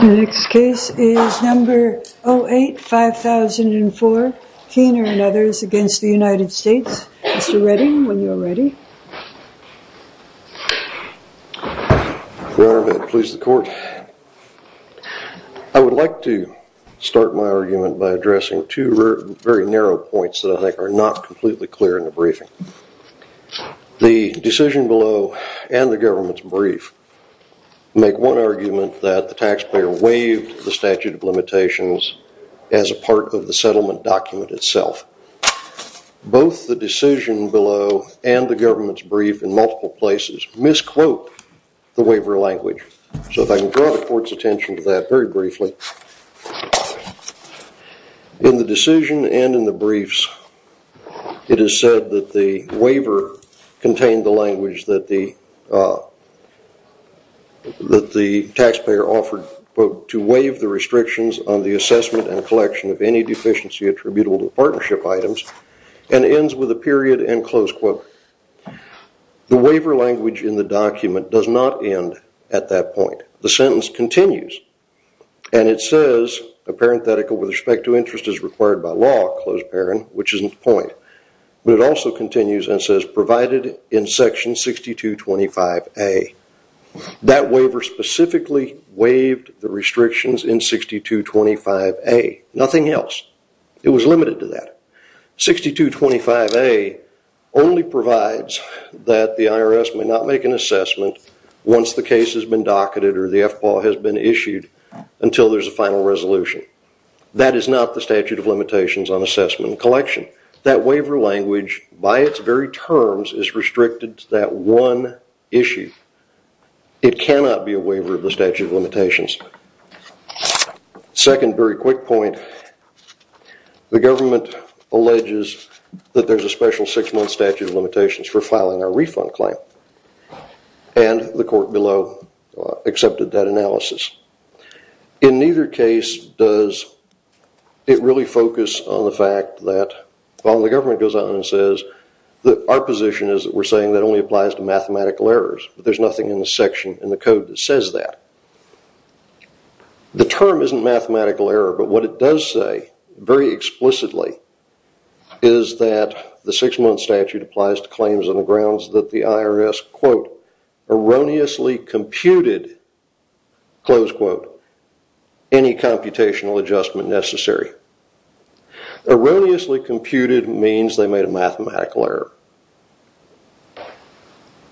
The next case is number 08-5004, Keener and others against the United States. Mr. Redding, when you are ready. I would like to start my argument by addressing two very narrow points that I think are not completely clear in the briefing. The decision below and the government's brief make one argument that the taxpayer waived the statute of limitations as a part of the settlement document itself. Both the decision below and the government's brief in multiple places misquote the waiver language. So if I can draw the court's attention to that very briefly. In the decision and in the briefs, it is said that the waiver contained the language that the taxpayer offered to waive the restrictions on the assessment and collection of any deficiency attributable to partnership items and ends with a period and close quote. The waiver language in the document does not end at that point. The sentence continues and it says a parenthetical with respect to interest is required by law, which is not the point, but it also continues and says provided in section 6225A, that waiver specifically waived the restrictions in 6225A. Nothing else. It was limited to that. 6225A only provides that the IRS may not make an assessment once the case has been docketed or the FPAW has been issued until there's a final resolution. That is not the statute of limitations on assessment and collection. That waiver language by its very terms is restricted to that one issue. It cannot be a waiver of the statute of limitations. Second, very quick point, the government alleges that there's a special six-month statute of limitations for filing a refund claim and the court below accepted that analysis. In neither case does it really focus on the fact that while the government goes out and says that our position is that we're saying that only applies to mathematical errors. There's nothing in the section in the code that says that. The term isn't mathematical error, but what it does say very explicitly is that the six-month statute applies to claims on the grounds that the IRS quote erroneously computed close quote any computational adjustment necessary. Erroneously computed means they made a mathematical error.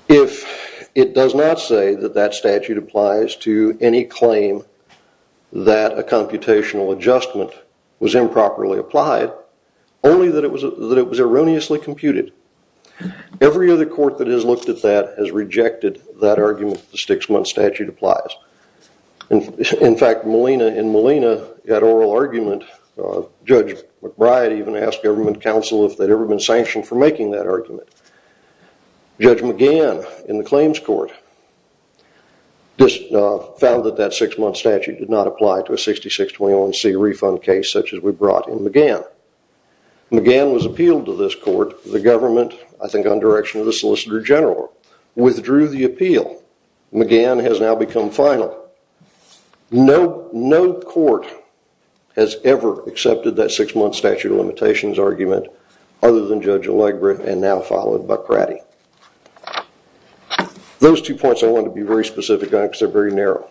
If it does not say that that statute applies to any claim that a computational adjustment was improperly applied, only that it was erroneously computed, every other court that has looked at that has rejected that argument that the six-month statute applies. In fact, Molina in Molina had oral argument, Judge McBride even asked government counsel if they'd ever been sanctioned for making that argument. Judge McGann in the claims court found that that six-month statute did not apply to a 6621C refund case such as we brought in McGann. McGann was appealed to this court, the government I think on direction of the solicitor general withdrew the appeal. McGann has now become final. No court has ever accepted that six-month statute of limitations argument other than Judge Allegret and now followed by Pratty. Those two points I wanted to be very specific on because they're very narrow.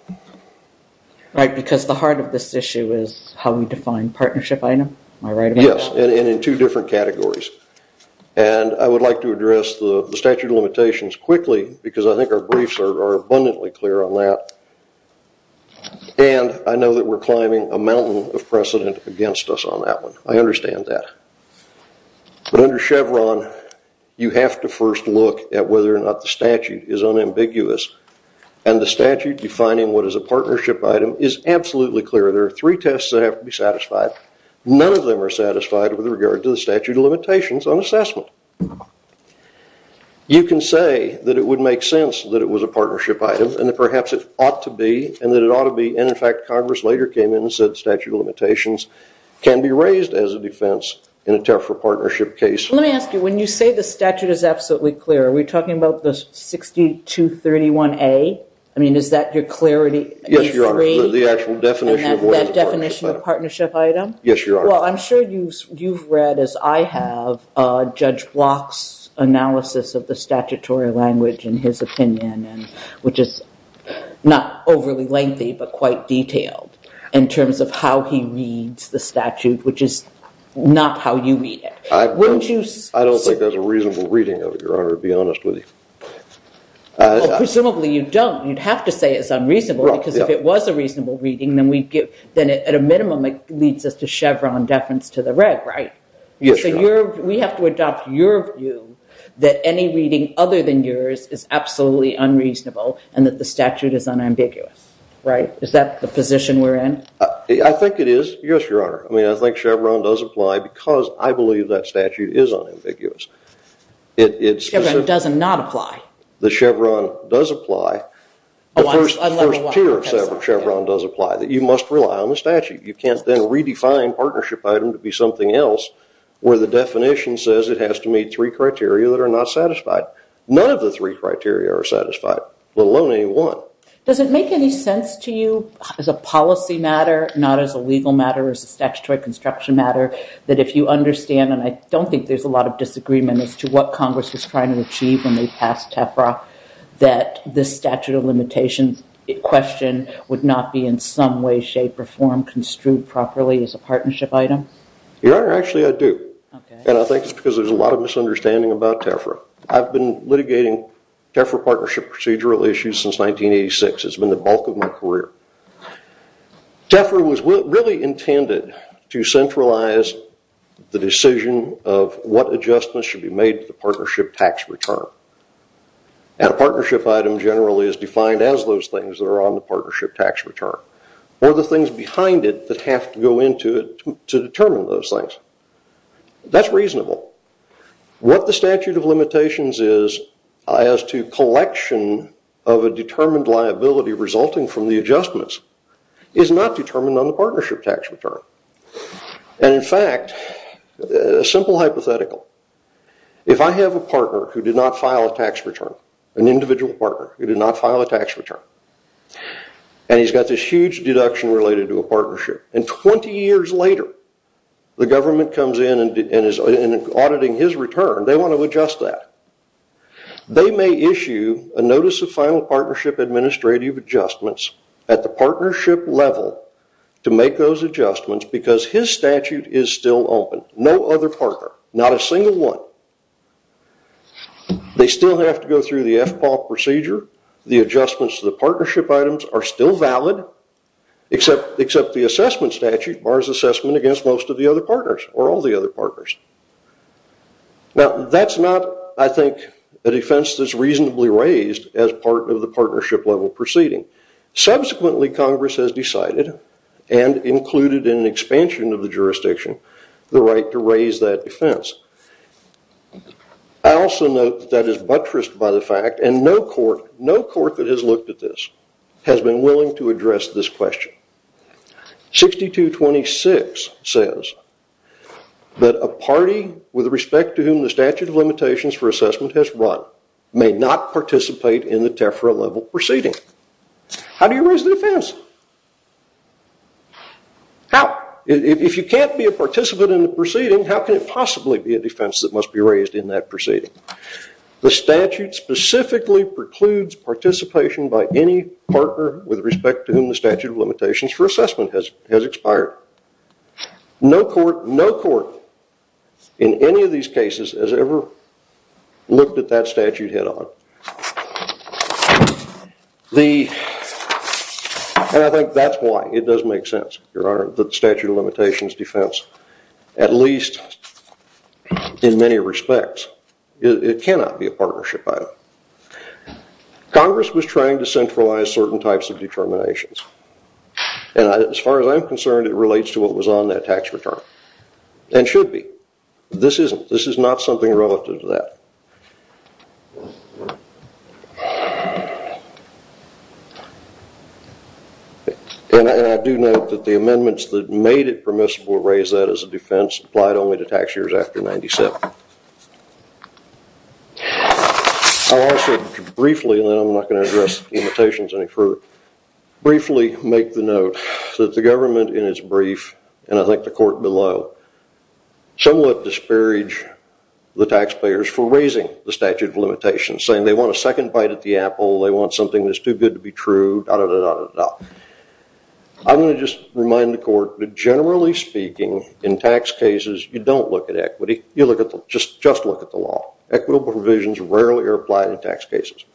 Because the heart of this issue is how we define partnership item, am I right? Yes, and in two different categories. I would like to address the statute of limitations quickly because I think our briefs are abundantly clear on that and I know that we're climbing a mountain of precedent against us on that one. I understand that. But under Chevron, you have to first look at whether or not the statute is unambiguous and the statute defining what is a partnership item is absolutely clear. There are three tests that have to be satisfied, none of them are satisfied with regard to the statute of limitations on assessment. You can say that it would make sense that it was a partnership item and perhaps it ought to be and that it ought to be and in fact Congress later came in and said statute of limitations can be raised as a defense in a tariff for partnership case. Let me ask you, when you say the statute is absolutely clear, are we talking about the 6231A? I mean, is that your clarity? Yes, Your Honor. The actual definition of what is a partnership item? Yes, Your Honor. Well, I'm sure you've read, as I have, Judge Block's analysis of the statutory language in his opinion, which is not overly lengthy but quite detailed in terms of how he reads the statute, which is not how you read it. I don't think there's a reasonable reading of it, Your Honor, to be honest with you. Well, presumably you don't. You'd have to say it's unreasonable because if it was a reasonable reading, then at a minimum, deference to the reg, right? We have to adopt your view that any reading other than yours is absolutely unreasonable and that the statute is unambiguous, right? Is that the position we're in? I think it is, yes, Your Honor. I mean, I think Chevron does apply because I believe that statute is unambiguous. It's specific. Chevron does not apply. The Chevron does apply. The first tier of Chevron does apply, that you must rely on the statute. You can't then redefine partnership item to be something else where the definition says it has to meet three criteria that are not satisfied. None of the three criteria are satisfied, let alone any one. Does it make any sense to you as a policy matter, not as a legal matter, as a statutory construction matter, that if you understand, and I don't think there's a lot of disagreement as to what Congress was trying to achieve when they passed TEFRA, that this statute of limitations question would not be in some way, shape, or form construed properly as a partnership item? Your Honor, actually, I do, and I think it's because there's a lot of misunderstanding about TEFRA. I've been litigating TEFRA partnership procedural issues since 1986. It's been the bulk of my career. TEFRA was really intended to centralize the decision of what adjustments should be made to the partnership tax return, and a partnership item generally is defined as those things that are on the partnership tax return, or the things behind it that have to go into it to determine those things. That's reasonable. What the statute of limitations is as to collection of a determined liability resulting from the adjustments is not determined on the partnership tax return, and in fact, a simple hypothetical. If I have a partner who did not file a tax return, an individual partner who did not file a tax return, and he's got this huge deduction related to a partnership, and 20 years later, the government comes in and is auditing his return, they want to adjust that. They may issue a notice of final partnership administrative adjustments at the partnership level to make those adjustments because his statute is still open. No other partner, not a single one. They still have to go through the FPAW procedure. The adjustments to the partnership items are still valid, except the assessment statute bars assessment against most of the other partners, or all the other partners. That's not, I think, a defense that's reasonably raised as part of the partnership level proceeding. Subsequently, Congress has decided, and included in an expansion of the jurisdiction, the right to raise that defense. I also note that that is buttressed by the fact, and no court that has looked at this has been willing to address this question. 6226 says that a party with respect to whom the statute of limitations for assessment has run may not participate in the TEFRA level proceeding. How do you raise the defense? How? If you can't be a participant in the proceeding, how can it possibly be a defense that must be raised in that proceeding? The statute specifically precludes participation by any partner with respect to whom the statute of limitations for assessment has expired. No court, in any of these cases, has ever looked at that statute head-on. I think that's why it doesn't make sense, Your Honor, that the statute of limitations defense, at least in many respects, it cannot be a partnership item. Congress was trying to centralize certain types of determinations. As far as I'm concerned, it relates to what was on that tax return, and should be. I do note that the amendments that made it permissible to raise that as a defense applied only to tax years after 1997. I'll also briefly, and then I'm not going to address the limitations any further, briefly make the note that the government in its brief, and I think the court below, somewhat disparaged the taxpayers for raising the statute of limitations, saying they want a second bite at the apple, they want something that's too good to be true, da-da-da-da-da-da. I'm going to just remind the court that generally speaking, in tax cases, you don't look at equity, you just look at the law. Equitable provisions rarely are applied in tax cases.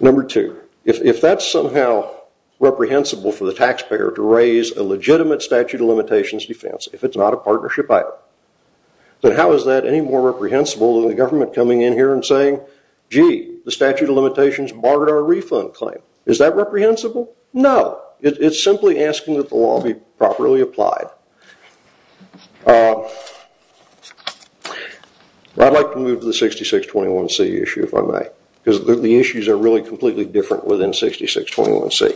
Number two, if that's somehow reprehensible for the taxpayer to raise a legitimate statute of limitations defense, if it's not a partnership item, then how is that any more reprehensible than the government coming in here and saying, gee, the statute of limitations barred our refund claim. Is that reprehensible? No. It's simply asking that the law be properly applied. I'd like to move to the 6621C issue, if I may, because the issues are really completely different within 6621C.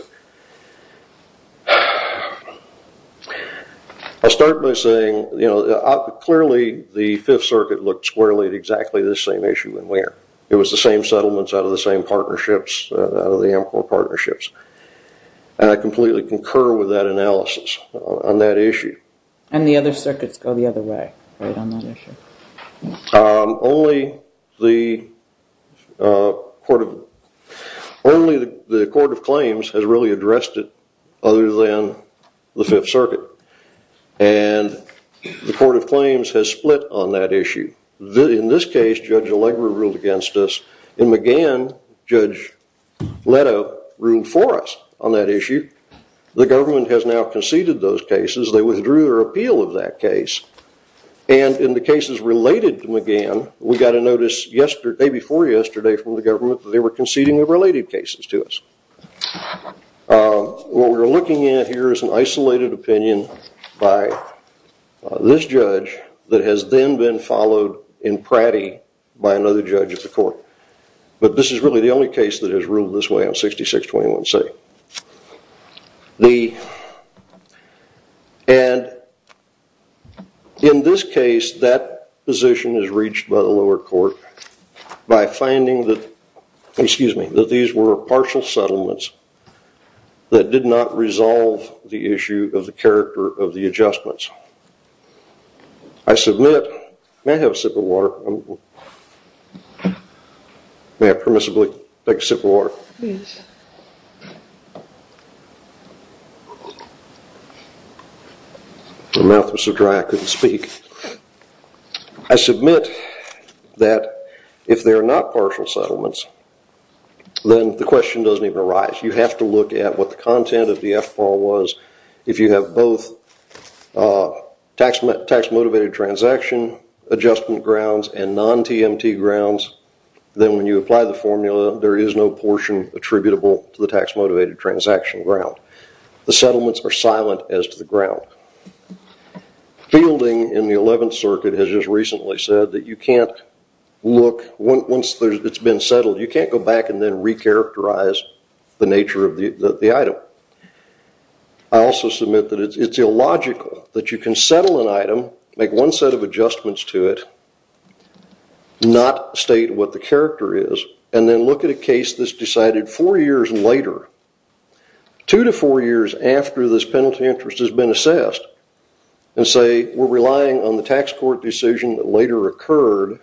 I'll start by saying, clearly, the Fifth Circuit looked squarely at exactly this same issue and where. It was the same settlements out of the same partnerships, out of the Amcor partnerships. I completely concur with that analysis on that issue. The other circuits go the other way on that issue. Only the Court of Claims has really addressed it other than the Fifth Circuit. And the Court of Claims has split on that issue. In this case, Judge Allegra ruled against us. In McGann, Judge Leto ruled for us on that issue. The government has now conceded those cases. They withdrew their appeal of that case. And in the cases related to McGann, we got a notice the day before yesterday from the government that they were conceding the related cases to us. What we're looking at here is an isolated opinion by this judge that has then been followed in Pratty by another judge of the court. But this is really the only case that has ruled this way on 6621C. And in this case, that position is reached by the lower court by finding that these were partial settlements that did not resolve the issue of the character of the adjustments. I submit... May I have a sip of water? May I permissibly take a sip of water? Yes. My mouth was so dry I couldn't speak. I submit that if they're not partial settlements, then the question doesn't even arise. You have to look at what the content of the FBAL was. If you have both tax-motivated transaction adjustment grounds and non-TMT grounds, then when you apply the formula, there is no portion attributable to the tax-motivated transaction ground. The settlements are silent as to the ground. Fielding in the 11th circuit has just recently said that you can't look... Once it's been settled, you can't go back and then recharacterize the nature of the item. I also submit that it's illogical that you can settle an item, make one set of adjustments to it, not state what the character is, and then look at a case that's decided four years later, two to four years after this penalty interest has been assessed, and say we're relying on the tax court decision that later occurred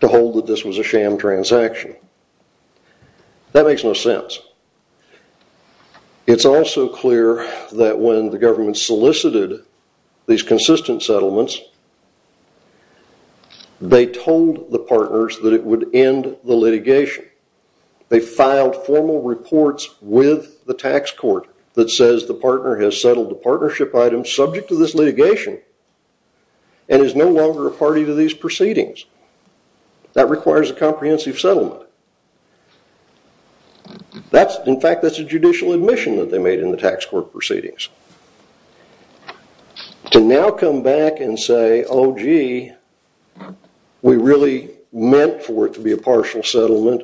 to hold that this was a sham transaction. That makes no sense. It's also clear that when the government solicited these consistent settlements, they told the partners that it would end the litigation. They filed formal reports with the tax court that says the partner has settled the partnership item subject to this litigation and is no longer a party to these proceedings. That requires a comprehensive settlement. In fact, that's a judicial admission that they made in the tax court proceedings. To now come back and say, oh, gee, we really meant for it to be a partial settlement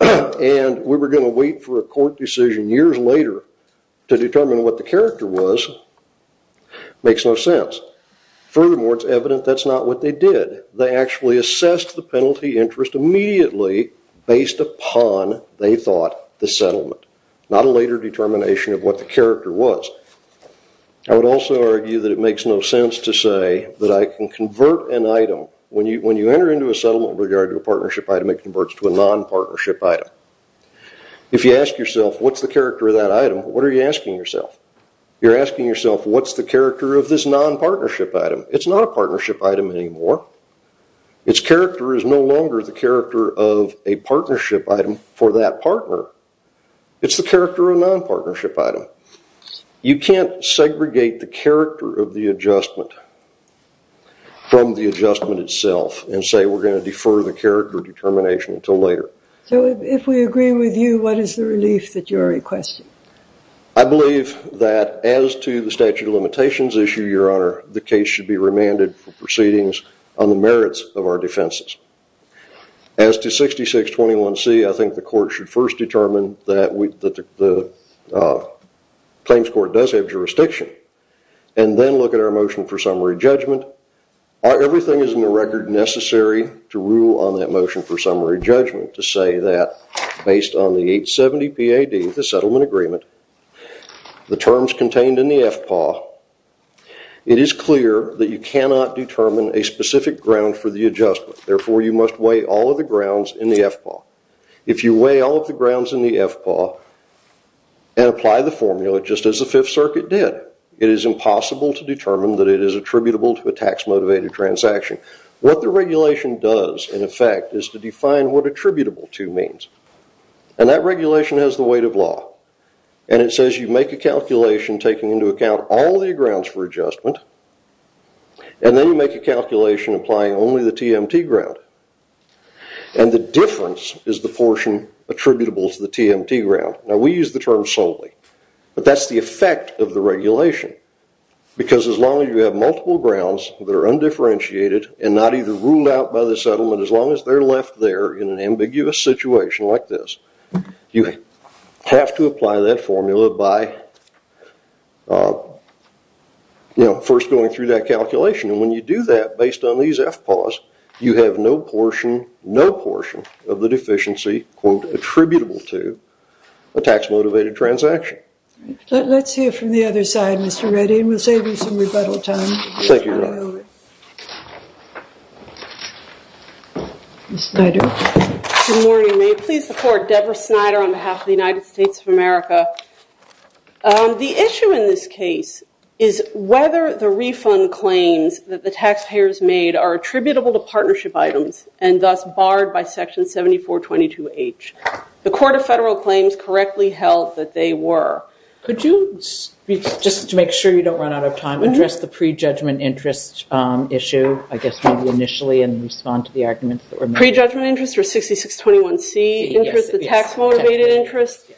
and we were going to wait for a court decision years later to determine what the character was makes no sense. Furthermore, it's evident that's not what they did. They actually assessed the penalty interest immediately based upon, they thought, the settlement. Not a later determination of what the character was. I would also argue that it makes no sense to say that I can convert an item, when you enter into a settlement with regard to a partnership item, it converts to a non-partnership item. If you ask yourself what's the character of that item, what are you asking yourself? You're asking yourself what's the character of this non-partnership item? It's not a partnership item anymore. Its character is no longer the character of a partnership item for that partner. It's the character of a non-partnership item. You can't segregate the character of the adjustment from the adjustment itself and say we're going to defer the character determination until later. If we agree with you, what is the relief that you're requesting? I believe that as to the statute of limitations issue, your honor, the case should be remanded for proceedings on the merits of our defenses. As to 6621C, I think the court should first determine that the claims court does have jurisdiction and then look at our motion for summary judgment. Everything is in the record necessary to rule on that motion for summary judgment to say that based on the 870PAD, the settlement agreement, the terms contained in the FPAW, it is clear that you cannot determine a specific ground for the adjustment. Therefore, you must weigh all of the grounds in the FPAW. If you weigh all of the grounds in the FPAW and apply the formula just as the Fifth Circuit did, it is impossible to determine that it is attributable to a tax-motivated transaction. What the regulation does, in effect, is to define what attributable to means. That regulation has the weight of law and it says you make a calculation taking into account all of the grounds for adjustment and then you make a calculation applying only the TMT ground. The difference is the portion attributable to the TMT ground. We use the term solely, but that's the effect of the regulation because as long as you have multiple grounds that are undifferentiated and not either ruled out by the settlement as long as they are left there in an ambiguous situation like this, you have to apply that formula by first going through that calculation. When you do that based on these FPAWs, you have no portion of the deficiency attributable to a tax-motivated transaction. Let's hear from the other side, Mr. Reddy, and we'll save you some rebuttal time. Thank you, Your Honor. Ms. Snyder. Good morning. May it please the Court, Deborah Snyder on behalf of the United States of America. The issue in this case is whether the refund claims that the taxpayers made are attributable to partnership items and thus barred by Section 7422H. The Court of Federal Claims correctly held that they were. Could you, just to make sure you don't run out of time, address the pre-judgment interest issue, I guess, maybe initially and respond to the arguments that were made? Pre-judgment interest or 6621C interest, the tax-motivated interest?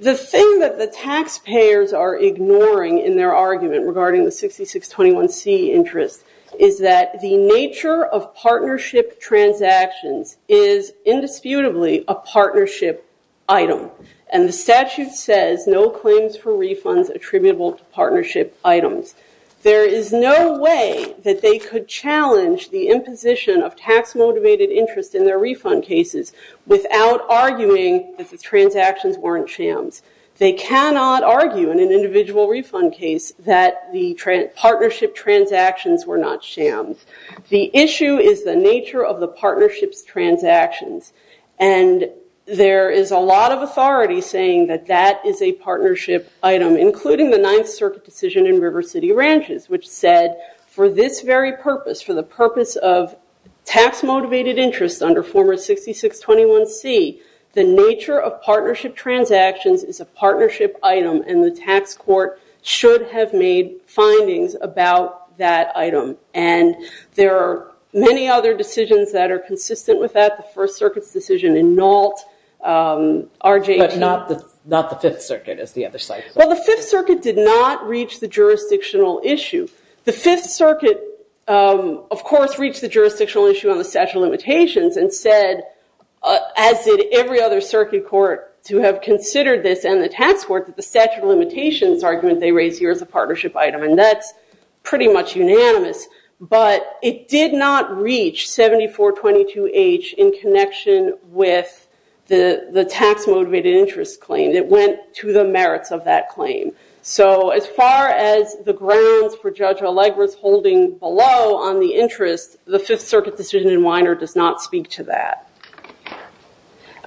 The thing that the taxpayers are ignoring in their argument regarding the 6621C interest is that the nature of partnership transactions is indisputably a partnership item. And the statute says no claims for refunds attributable to partnership items. There is no way that they could challenge the imposition of tax-motivated interest in their refund cases without arguing that the transactions weren't shams. They cannot argue in an individual refund case that the partnership transactions were not shams. The issue is the nature of the partnership's transactions. And there is a lot of authority saying that that is a partnership item, including the Ninth Circuit decision in River City Ranches, which said for this very purpose, for the purpose of tax-motivated interest under former 6621C, the nature of partnership transactions is a partnership item, and the tax court should have made findings about that item. And there are many other decisions that are consistent with that, the First Circuit's decision in Nault, RJ 18. But not the Fifth Circuit, as the other side says. Well, the Fifth Circuit did not reach the jurisdictional issue. The Fifth Circuit, of course, reached the jurisdictional issue on the statute of limitations and said, as did every other circuit court to have considered this and the tax court, that the statute of limitations argument they raised here is a partnership item. And that's pretty much unanimous. But it did not reach 7422H in connection with the tax-motivated interest claim. It went to the merits of that claim. So as far as the grounds for Judge Allegra's holding below on the interest, the Fifth Circuit decision in Weiner does not speak to that.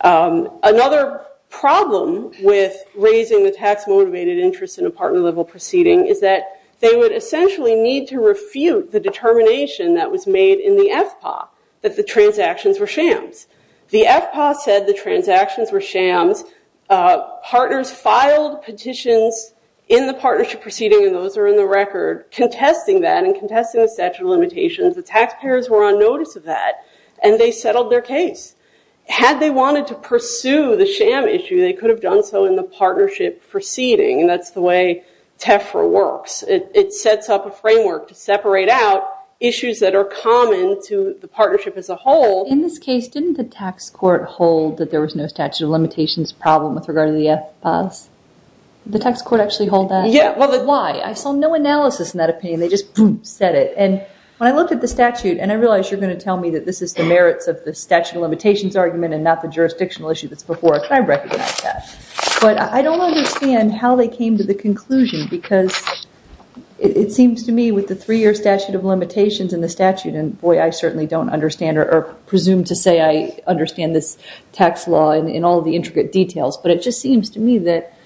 Another problem with raising the tax-motivated interest in a partner-level proceeding is that they would essentially need to refute the determination that was made in the FPA that the transactions were shams. The FPA said the transactions were shams. Partners filed petitions in the partnership proceeding, and those are in the record, contesting that and contesting the statute of limitations. The taxpayers were on notice of that, and they settled their case. Had they wanted to pursue the sham issue, they could have done so in the partnership proceeding. And that's the way TEFRA works. It sets up a framework to separate out issues that are common to the partnership as a whole. In this case, didn't the tax court hold that there was no statute of limitations problem with regard to the FPAs? The tax court actually hold that? Yeah. Why? I saw no analysis in that opinion. They just said it. And when I looked at the statute, and I realize you're going to tell me that this is the merits of the statute of limitations argument and not the jurisdictional issue that's before it. I recognize that. But I don't understand how they came to the conclusion, because it seems to me with the three-year statute of limitations and the statute, and boy, I certainly don't understand or presume to say I understand this tax law in all the intricate details, but it just seems to me that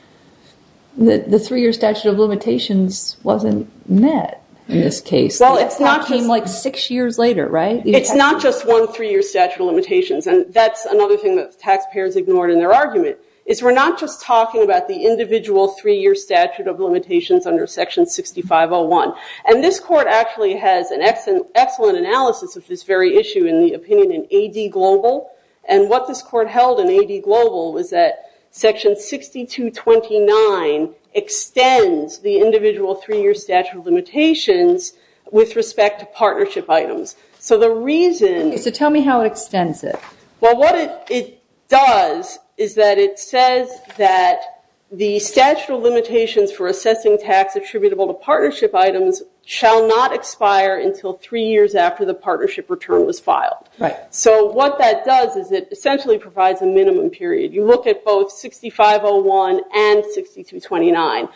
the three-year statute of limitations wasn't met in this case. It came like six years later, right? It's not just one three-year statute of limitations, and that's another thing that the taxpayers ignored in their argument, is we're not just talking about the individual three-year statute of limitations under section 6501. And this court actually has an excellent analysis of this very issue in the opinion in AD Global. And what this court held in AD Global was that section 6229 extends the individual three-year statute of limitations with respect to partnership items. So the reason- So tell me how it extends it. Well, what it does is that it says that the statute of limitations for assessing tax attributable to partnership items shall not expire until three years after the partnership return was filed. Right. So what that does is it essentially provides a minimum period. You look at both 6501 and 6229,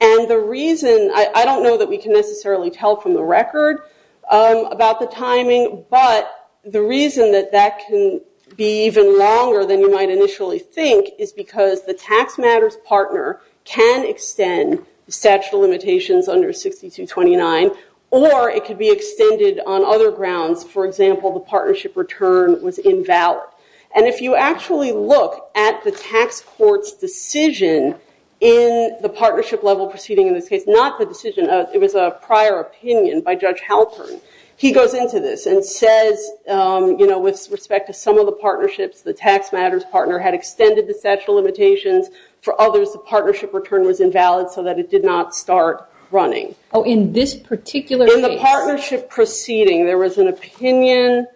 and the reason- I don't know that we can necessarily tell from the record about the timing, but the reason that that can be even longer than you might initially think is because the tax matters partner can extend the statute of limitations under 6229, or it could be extended on other grounds. For example, the partnership return was invalid. And if you actually look at the tax court's decision in the partnership level proceeding in this case, not the decision, it was a prior opinion by Judge Halpern. He goes into this and says, you know, with respect to some of the partnerships, the tax matters partner had extended the statute of limitations. For others, the partnership return was invalid so that it did not start running. Oh, in this particular case? In the partnership proceeding, there was an opinion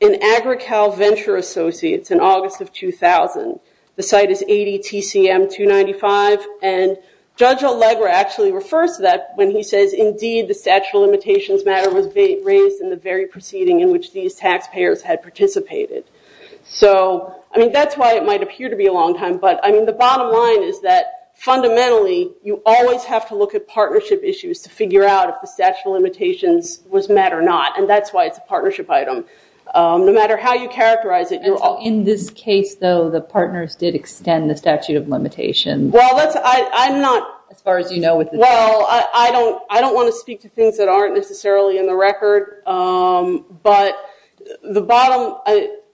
in Agrical Venture Associates in August of 2000. The site is 80 TCM 295, and Judge Allegra actually refers to that when he says, indeed, the statute of limitations matter was raised in the very proceeding in which these taxpayers had participated. So, I mean, that's why it might appear to be a long time, but I mean, the bottom line is that fundamentally, you always have to look at partnership issues to figure out if this was met or not. And that's why it's a partnership item. No matter how you characterize it, you're all... In this case, though, the partners did extend the statute of limitations. Well, that's... I'm not... As far as you know with this case. Well, I don't want to speak to things that aren't necessarily in the record, but the bottom...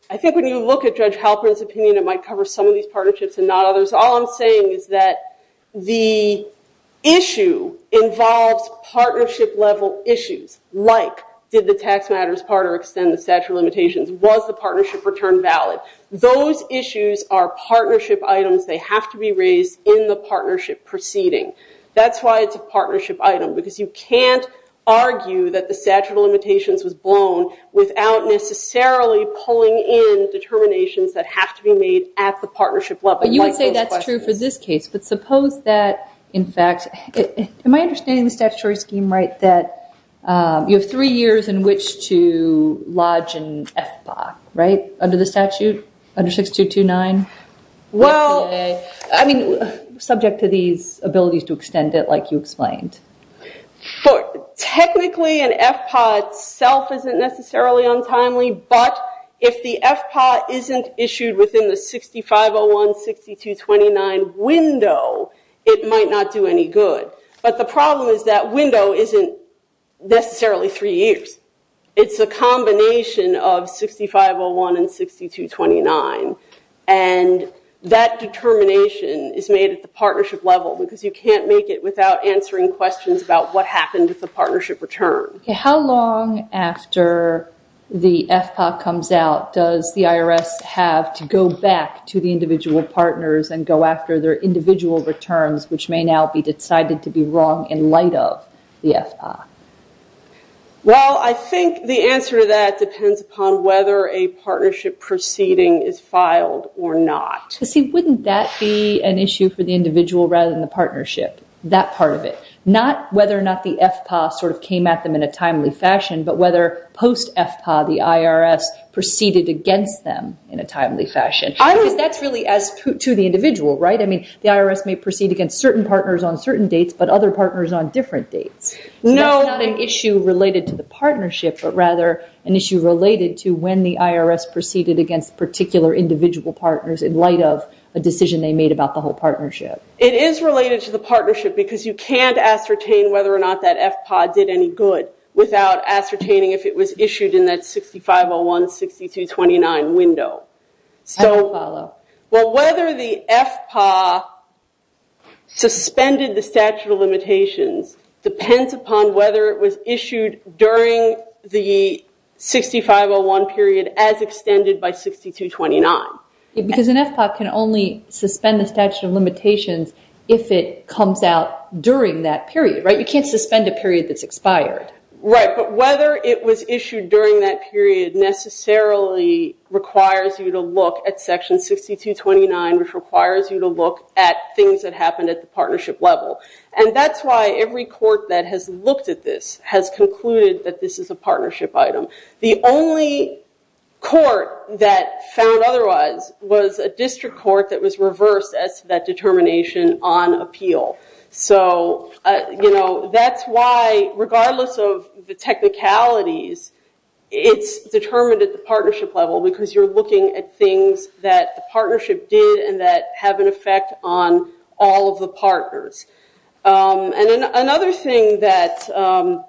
I think when you look at Judge Halpern's opinion, it might cover some of these partnerships and not others. So, all I'm saying is that the issue involves partnership level issues, like did the tax matters part or extend the statute of limitations? Was the partnership return valid? Those issues are partnership items. They have to be raised in the partnership proceeding. That's why it's a partnership item, because you can't argue that the statute of limitations was blown without necessarily pulling in determinations that have to be made at the partnership level. But you would say that's true for this case, but suppose that, in fact... Am I understanding the statutory scheme right, that you have three years in which to lodge an FPA, right, under the statute, under 6229? Well, I mean, subject to these abilities to extend it, like you explained. Technically, an FPA itself isn't necessarily untimely, but if the FPA isn't issued within the 6501, 6229 window, it might not do any good. But the problem is that window isn't necessarily three years. It's a combination of 6501 and 6229, and that determination is made at the partnership level, because you can't make it without answering questions about what happened with the partnership return. How long after the FPA comes out does the IRS have to go back to the individual partners and go after their individual returns, which may now be decided to be wrong in light of the FPA? Well, I think the answer to that depends upon whether a partnership proceeding is filed or not. But see, wouldn't that be an issue for the individual rather than the partnership, that part of it? Not whether or not the FPA sort of came at them in a timely fashion, but whether post-FPA the IRS proceeded against them in a timely fashion, because that's really to the individual, right? I mean, the IRS may proceed against certain partners on certain dates, but other partners on different dates. No. So that's not an issue related to the partnership, but rather an issue related to when the IRS proceeded against particular individual partners in light of a decision they made about the whole partnership. It is related to the partnership because you can't ascertain whether or not that FPA did any good without ascertaining if it was issued in that 6501, 6229 window. I don't follow. Well, whether the FPA suspended the statute of limitations depends upon whether it was issued during the 6501 period as extended by 6229. Because an FPA can only suspend the statute of limitations if it comes out during that period, right? You can't suspend a period that's expired. Right, but whether it was issued during that period necessarily requires you to look at section 6229, which requires you to look at things that happened at the partnership level. And that's why every court that has looked at this has concluded that this is a partnership item. The only court that found otherwise was a district court that was reversed as to that determination on appeal. So that's why, regardless of the technicalities, it's determined at the partnership level because you're looking at things that the partnership did and that have an effect on all of the partners. And another thing that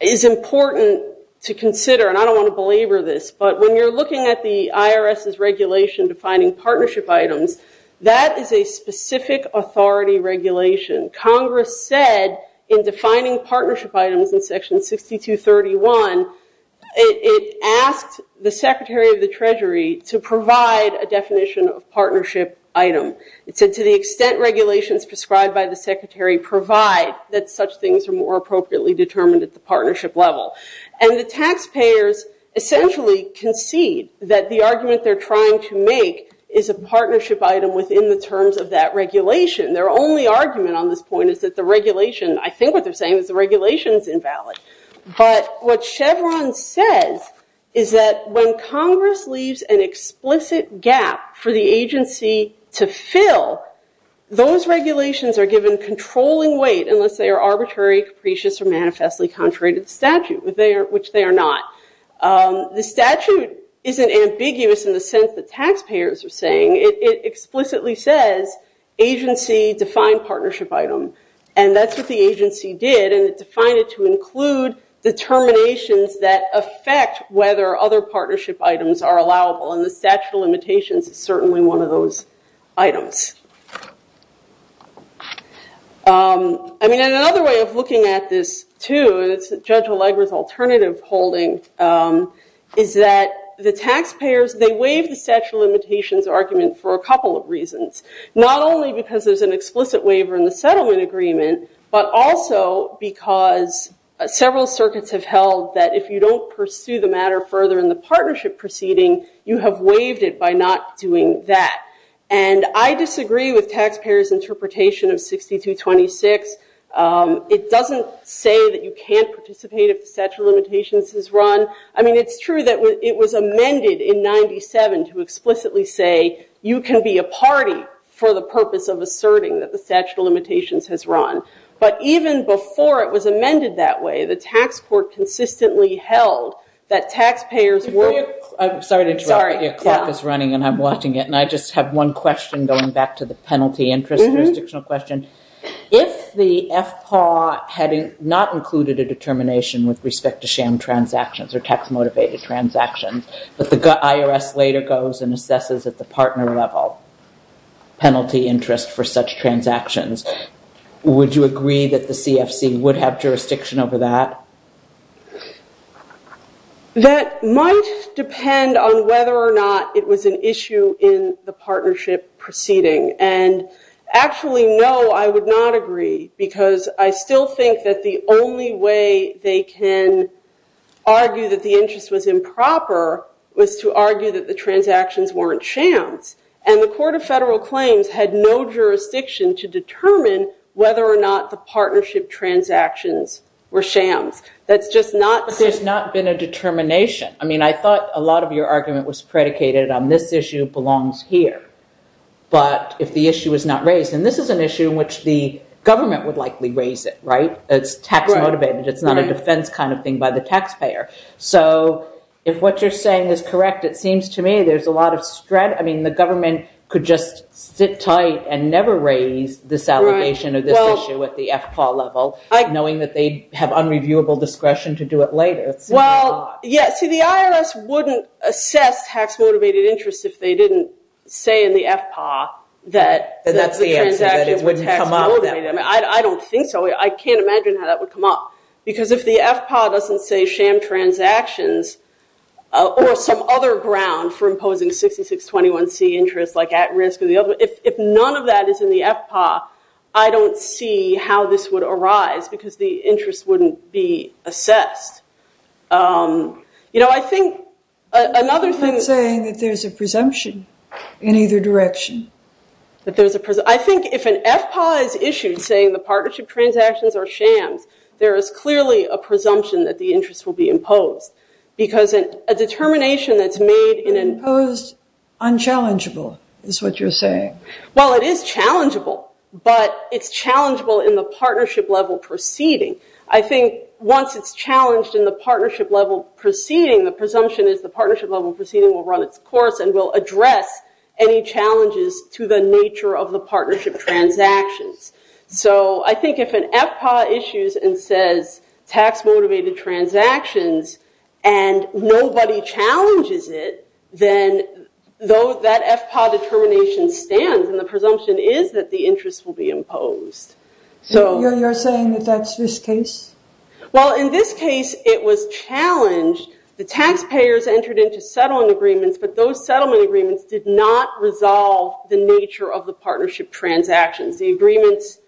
is important to consider, and I don't want to belabor this, but when you're looking at the IRS's regulation defining partnership items, that is a specific authority regulation. Congress said in defining partnership items in section 6231, it asked the Secretary of the Treasury to provide a definition of partnership item. It said, to the extent regulations prescribed by the Secretary provide that such things are more appropriately determined at the partnership level. And the taxpayers essentially concede that the argument they're trying to make is a partnership item within the terms of that regulation. Their only argument on this point is that the regulation, I think what they're saying is the regulation is invalid. But what Chevron says is that when Congress leaves an explicit gap for the agency to fill, those regulations are given controlling weight unless they are arbitrary, capricious, or manifestly contrary to the statute, which they are not. The statute isn't ambiguous in the sense that taxpayers are saying. It explicitly says agency defined partnership item. And that's what the agency did, and it defined it to include determinations that affect whether other partnership items are allowable, and the statute of limitations is certainly one of those items. I mean, another way of looking at this, too, and it's Judge Allegra's alternative holding, is that the taxpayers, they waive the statute of limitations argument for a couple of reasons. Not only because there's an explicit waiver in the settlement agreement, but also because several circuits have held that if you don't pursue the matter further in the partnership proceeding, you have waived it by not doing that. And I disagree with taxpayers' interpretation of 6226. It doesn't say that you can't participate if the statute of limitations is run. I mean, it's true that it was amended in 97 to explicitly say you can be a party for the purpose of asserting that the statute of limitations has run. But even before it was amended that way, the tax court consistently held that taxpayers weren't- I'm sorry to interrupt. Sorry. Your clock is running, and I'm watching it. And I just have one question going back to the penalty interest jurisdictional question. If the FPAW had not included a determination with respect to sham transactions or tax-motivated transactions, but the IRS later goes and assesses at the partner level penalty interest for such transactions, would you agree that the CFC would have jurisdiction over that? That might depend on whether or not it was an issue in the partnership proceeding. And actually, no, I would not agree, because I still think that the only way they can argue that the interest was improper was to argue that the transactions weren't shams. And the Court of Federal Claims had no jurisdiction to determine whether or not the partnership transactions were shams. That's just not- But there's not been a determination. I mean, I thought a lot of your argument was predicated on this issue belongs here. But if the issue was not raised, and this is an issue in which the government would likely raise it, right? It's tax-motivated. It's not a defense kind of thing by the taxpayer. So if what you're saying is correct, it seems to me there's a lot of stress. I mean, the government could just sit tight and never raise this allegation or this issue at the FPAW level, knowing that they have unreviewable discretion to do it later. Well, yeah. See, the IRS wouldn't assess tax-motivated interest if they didn't say in the FPAW that the transaction was tax-motivated. Then that's the answer, that it wouldn't come up. I mean, I don't think so. I can't imagine how that would come up. Because if the FPAW doesn't say sham transactions or some other ground for imposing 6621C interest, like at-risk or the other, if none of that is in the FPAW, I don't see how this would be assessed. You know, I think another thing... You're saying that there's a presumption in either direction. I think if an FPAW is issued saying the partnership transactions are shams, there is clearly a presumption that the interest will be imposed. Because a determination that's made in an... Imposed, unchallengeable, is what you're saying. Well, it is challengeable. But it's challengeable in the partnership level proceeding. I think once it's challenged in the partnership level proceeding, the presumption is the partnership level proceeding will run its course and will address any challenges to the nature of the partnership transactions. So I think if an FPAW issues and says tax-motivated transactions and nobody challenges it, then though that FPAW determination stands and the presumption is that the interest will be imposed. You're saying that that's this case? Well, in this case it was challenged. The taxpayers entered into settling agreements, but those settlement agreements did not resolve the nature of the partnership transactions. The agreements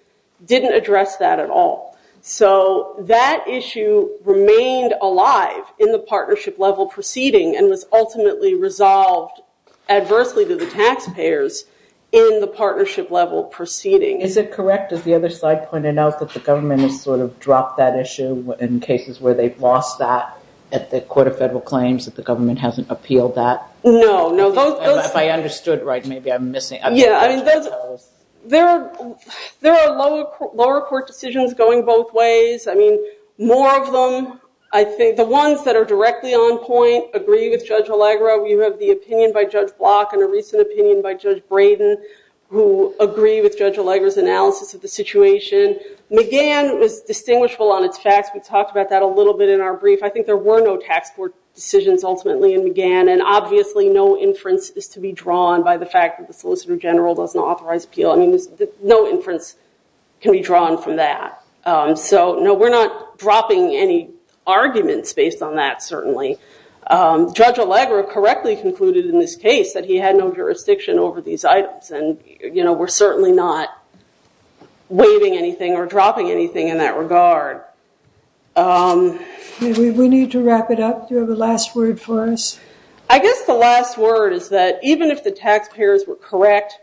didn't address that at all. So that issue remained alive in the partnership level proceeding and was ultimately resolved adversely to the taxpayers in the partnership level proceeding. Is it correct, as the other side pointed out, that the government has sort of dropped that issue in cases where they've lost that at the Court of Federal Claims, that the government hasn't appealed that? No, no. If I understood right, maybe I'm missing... Yeah, I mean, there are lower court decisions going both ways. I mean, more of them, I think, the ones that are directly on point agree with Judge Allegra. We have the opinion by Judge Block and a recent opinion by Judge Braden who agree with Judge Allegra's analysis of the situation. McGann was distinguishable on its facts. We talked about that a little bit in our brief. I think there were no tax court decisions ultimately in McGann, and obviously no inference is to be drawn by the fact that the Solicitor General doesn't authorize appeal. No inference can be drawn from that. So no, we're not dropping any arguments based on that, certainly. Judge Allegra correctly concluded in this case that he had no jurisdiction over these not waiving anything or dropping anything in that regard. We need to wrap it up. Do you have a last word for us? I guess the last word is that even if the taxpayers were correct,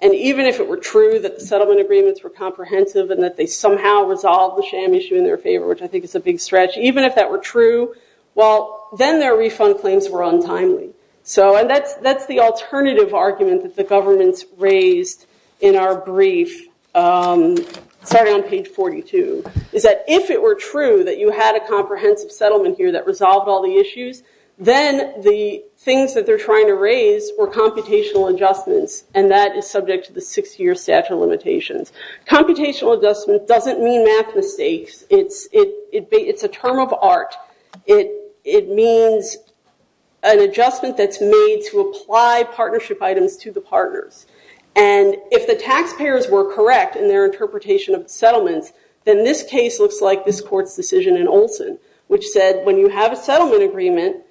and even if it were true that the settlement agreements were comprehensive and that they somehow resolved the sham issue in their favor, which I think is a big stretch, even if that were true, well, then their refund claims were untimely. So that's the alternative argument that the government's raised in our brief, starting on page 42, is that if it were true that you had a comprehensive settlement here that resolved all the issues, then the things that they're trying to raise were computational adjustments, and that is subject to the six-year statute of limitations. Computational adjustment doesn't mean math mistakes. It's a term of art. It means an adjustment that's made to apply partnership items to the partners. And if the taxpayers were correct in their interpretation of the settlements, then this case looks like this court's decision in Olson, which said when you have a settlement agreement,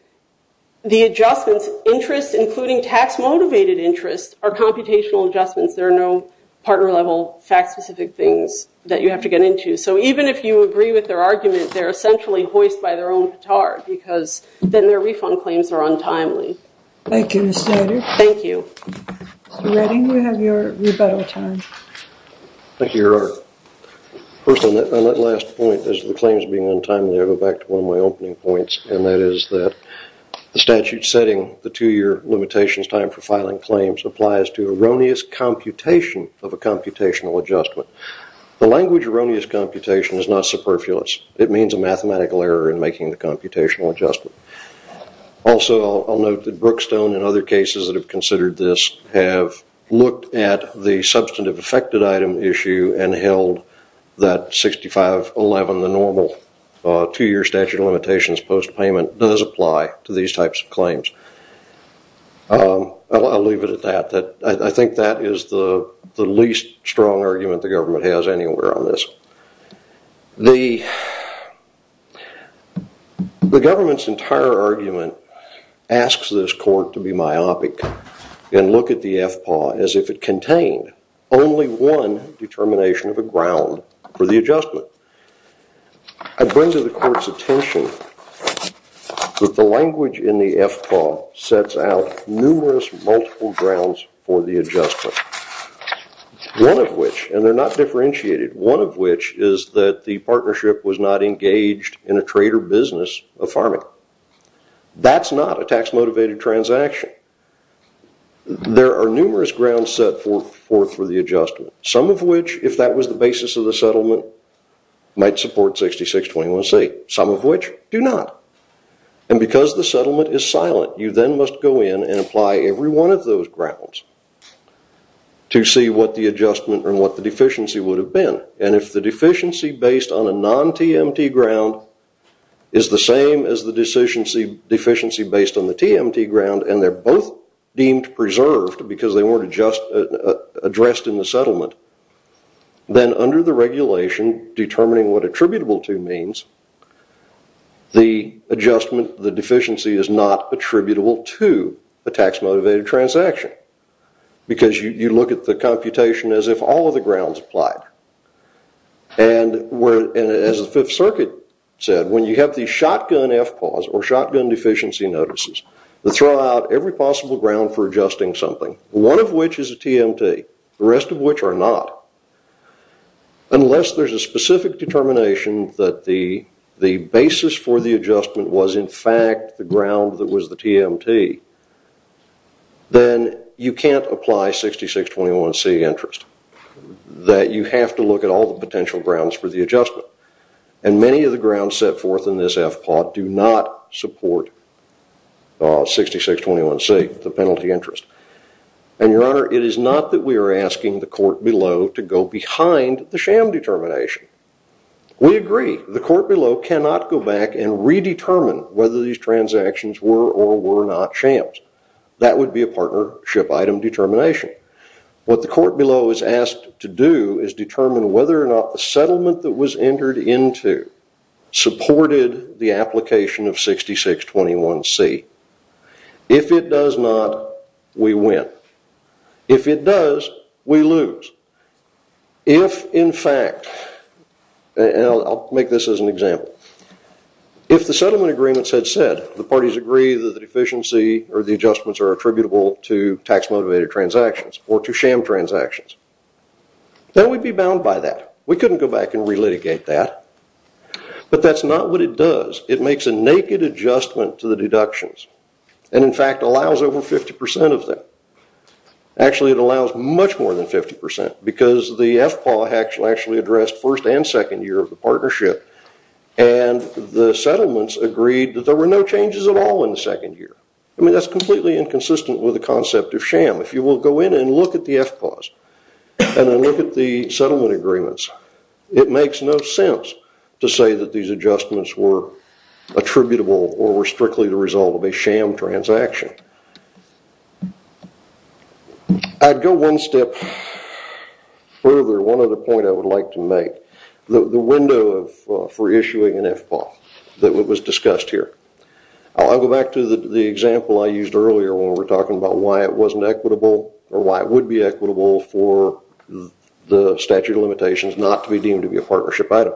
the adjustments interest, including tax-motivated interest, are computational adjustments. There are no partner-level, fact-specific things that you have to get into. So even if you agree with their argument, they're essentially hoist by their own petard, because then their refund claims are untimely. Thank you, Ms. Snyder. Thank you. Mr. Redding, you have your rebuttal time. Thank you, Your Honor. First, on that last point as to the claims being untimely, I go back to one of my opening points, and that is that the statute setting the two-year limitations time for filing claims applies to erroneous computation of a computational adjustment. The language erroneous computation is not superfluous. It means a mathematical error in making the computational adjustment. Also, I'll note that Brookstone and other cases that have considered this have looked at the substantive affected item issue and held that 6511, the normal two-year statute of limitations post-payment, does apply to these types of claims. I'll leave it at that. I think that is the least strong argument the government has anywhere on this. The government's entire argument asks this court to be myopic and look at the FPAW as if it contained only one determination of a ground for the adjustment. I bring to the court's attention that the language in the FPAW sets out numerous multiple grounds for the adjustment, one of which, and they're not differentiated, one of which is that the partnership was not engaged in a trade or business of farming. That's not a tax-motivated transaction. There are numerous grounds set forth for the adjustment, some of which, if that was the basis of the settlement, might support 6621C, some of which do not. And because the settlement is silent, you then must go in and apply every one of those grounds to see what the adjustment and what the deficiency would have been, and if the deficiency based on a non-TMT ground is the same as the deficiency based on the TMT ground and they're both deemed preserved because they weren't addressed in the settlement, then under the regulation, determining what attributable to means, the adjustment, the deficiency is not attributable to a tax-motivated transaction because you look at the computation as if all of the grounds applied. And as the Fifth Circuit said, when you have the shotgun FPAWs or shotgun deficiency notices that throw out every possible ground for adjusting something, one of which is a TMT, the rest of which are not, unless there's a specific determination that the basis for the adjustment was in fact the ground that was the TMT, then you can't apply 6621C interest, that you have to look at all the potential grounds for the adjustment. And many of the grounds set forth in this FPAW do not support 6621C, the penalty interest. And Your Honor, it is not that we are asking the court below to go behind the sham determination. We agree, the court below cannot go back and redetermine whether these transactions were or were not shams. That would be a partnership item determination. What the court below is asked to do is determine whether or not the settlement that was entered into supported the application of 6621C. If it does not, we win. If it does, we lose. If in fact, and I'll make this as an example, if the settlement agreements had said the parties agree that the deficiency or the adjustments are attributable to tax motivated transactions or to sham transactions, then we'd be bound by that. We couldn't go back and relitigate that. But that's not what it does. It makes a naked adjustment to the deductions and in fact allows over 50% of them. Actually it allows much more than 50% because the FPAW actually addressed first and second year of the partnership and the settlements agreed that there were no changes at all in the second year. I mean, that's completely inconsistent with the concept of sham. If you will go in and look at the FPAWs and then look at the settlement agreements, it makes no sense to say that these adjustments were attributable or were strictly the result of a sham transaction. I'd go one step further. One other point I would like to make, the window for issuing an FPAW that was discussed here. I'll go back to the example I used earlier when we were talking about why it wasn't equitable or why it would be equitable for the statute of limitations not to be deemed to be a partnership item.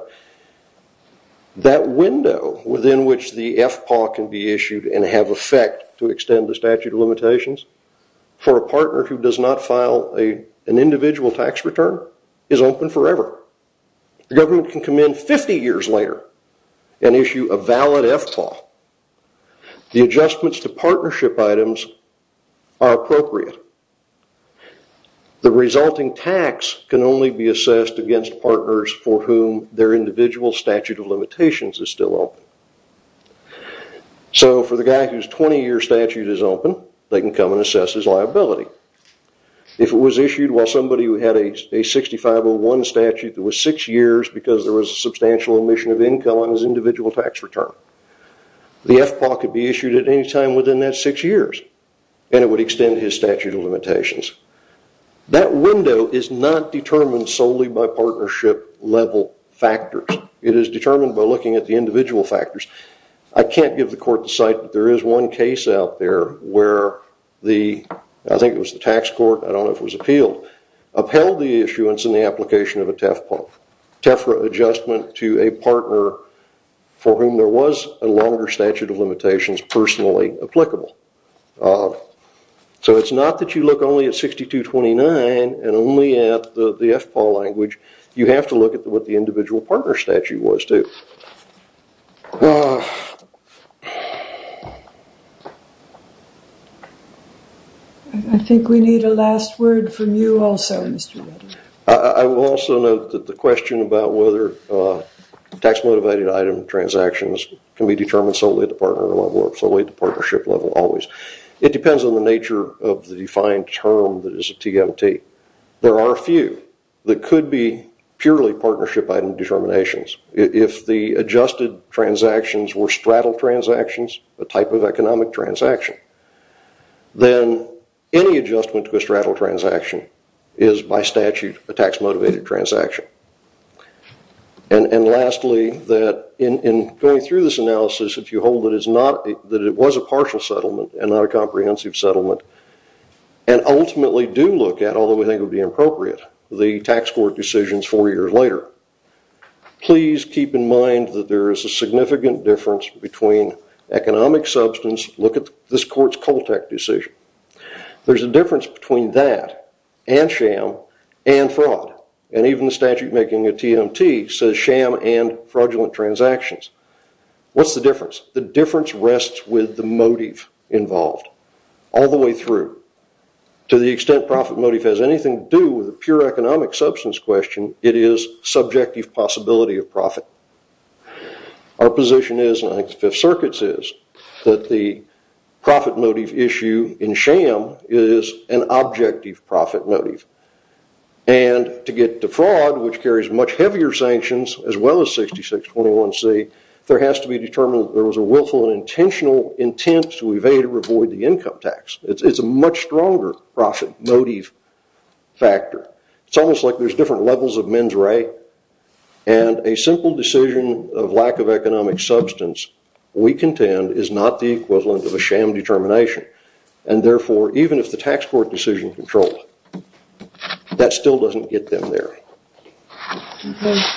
That window within which the FPAW can be issued and have effect to extend the statute of limitations for a partner who does not file an individual tax return is open forever. The government can come in 50 years later and issue a valid FPAW. The adjustments to partnership items are appropriate. The resulting tax can only be assessed against partners for whom their individual statute of limitations is still open. So for the guy whose 20-year statute is open, they can come and assess his liability. If it was issued while somebody who had a 6501 statute that was six years because there was a substantial emission of income on his individual tax return, the FPAW could be issued at any time within that six years and it would extend his statute of limitations. That window is not determined solely by partnership level factors. It is determined by looking at the individual factors. I can't give the court the site but there is one case out there where the, I think it was the tax court, I don't know if it was appealed, upheld the issuance in the application of a TEFRA adjustment to a partner for whom there was a longer statute of limitations personally applicable. So it's not that you look only at 6229 and only at the FPAW language. You have to look at what the individual partner statute was too. I think we need a last word from you also. I will also note that the question about whether tax-motivated item transactions can be determined solely at the partner level or solely at the partnership level always. It depends on the nature of the defined term that is a TMT. There are a few that could be purely partnership item determinations. If the adjusted transactions were straddle transactions, a type of economic transaction, then any adjustment to a straddle transaction is by statute a tax-motivated transaction. And lastly, in going through this analysis, if you hold that it was a partial settlement and not a comprehensive settlement, and ultimately do look at, although we think it would be appropriate, the tax court decisions four years later, please keep in mind that there is a significant difference between economic substance. Look at this court's Coltec decision. There's a difference between that and sham and fraud. And even the statute making a TMT says sham and fraudulent transactions. What's the difference? The difference rests with the motive involved all the way through. To the extent profit motive has anything to do with a pure economic substance question, it is subjective possibility of profit. Our position is, and I think the Fifth Circuit's is, that the profit motive issue in sham is an objective profit motive. And to get to fraud, which carries much heavier sanctions, as well as 6621C, there has to be determined that there was a willful and intentional intent to evade or avoid the income tax. It's a much stronger profit motive factor. It's almost like there's different levels of mens re. And a simple decision of lack of economic substance, we contend, is not the equivalent of a sham determination. And therefore, even if the tax court decision controlled, that still doesn't get them there.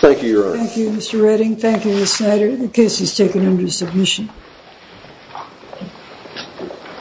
Thank you, Your Honor. Thank you, Mr. Redding. Thank you, Mr. Snyder. The case is taken under submission.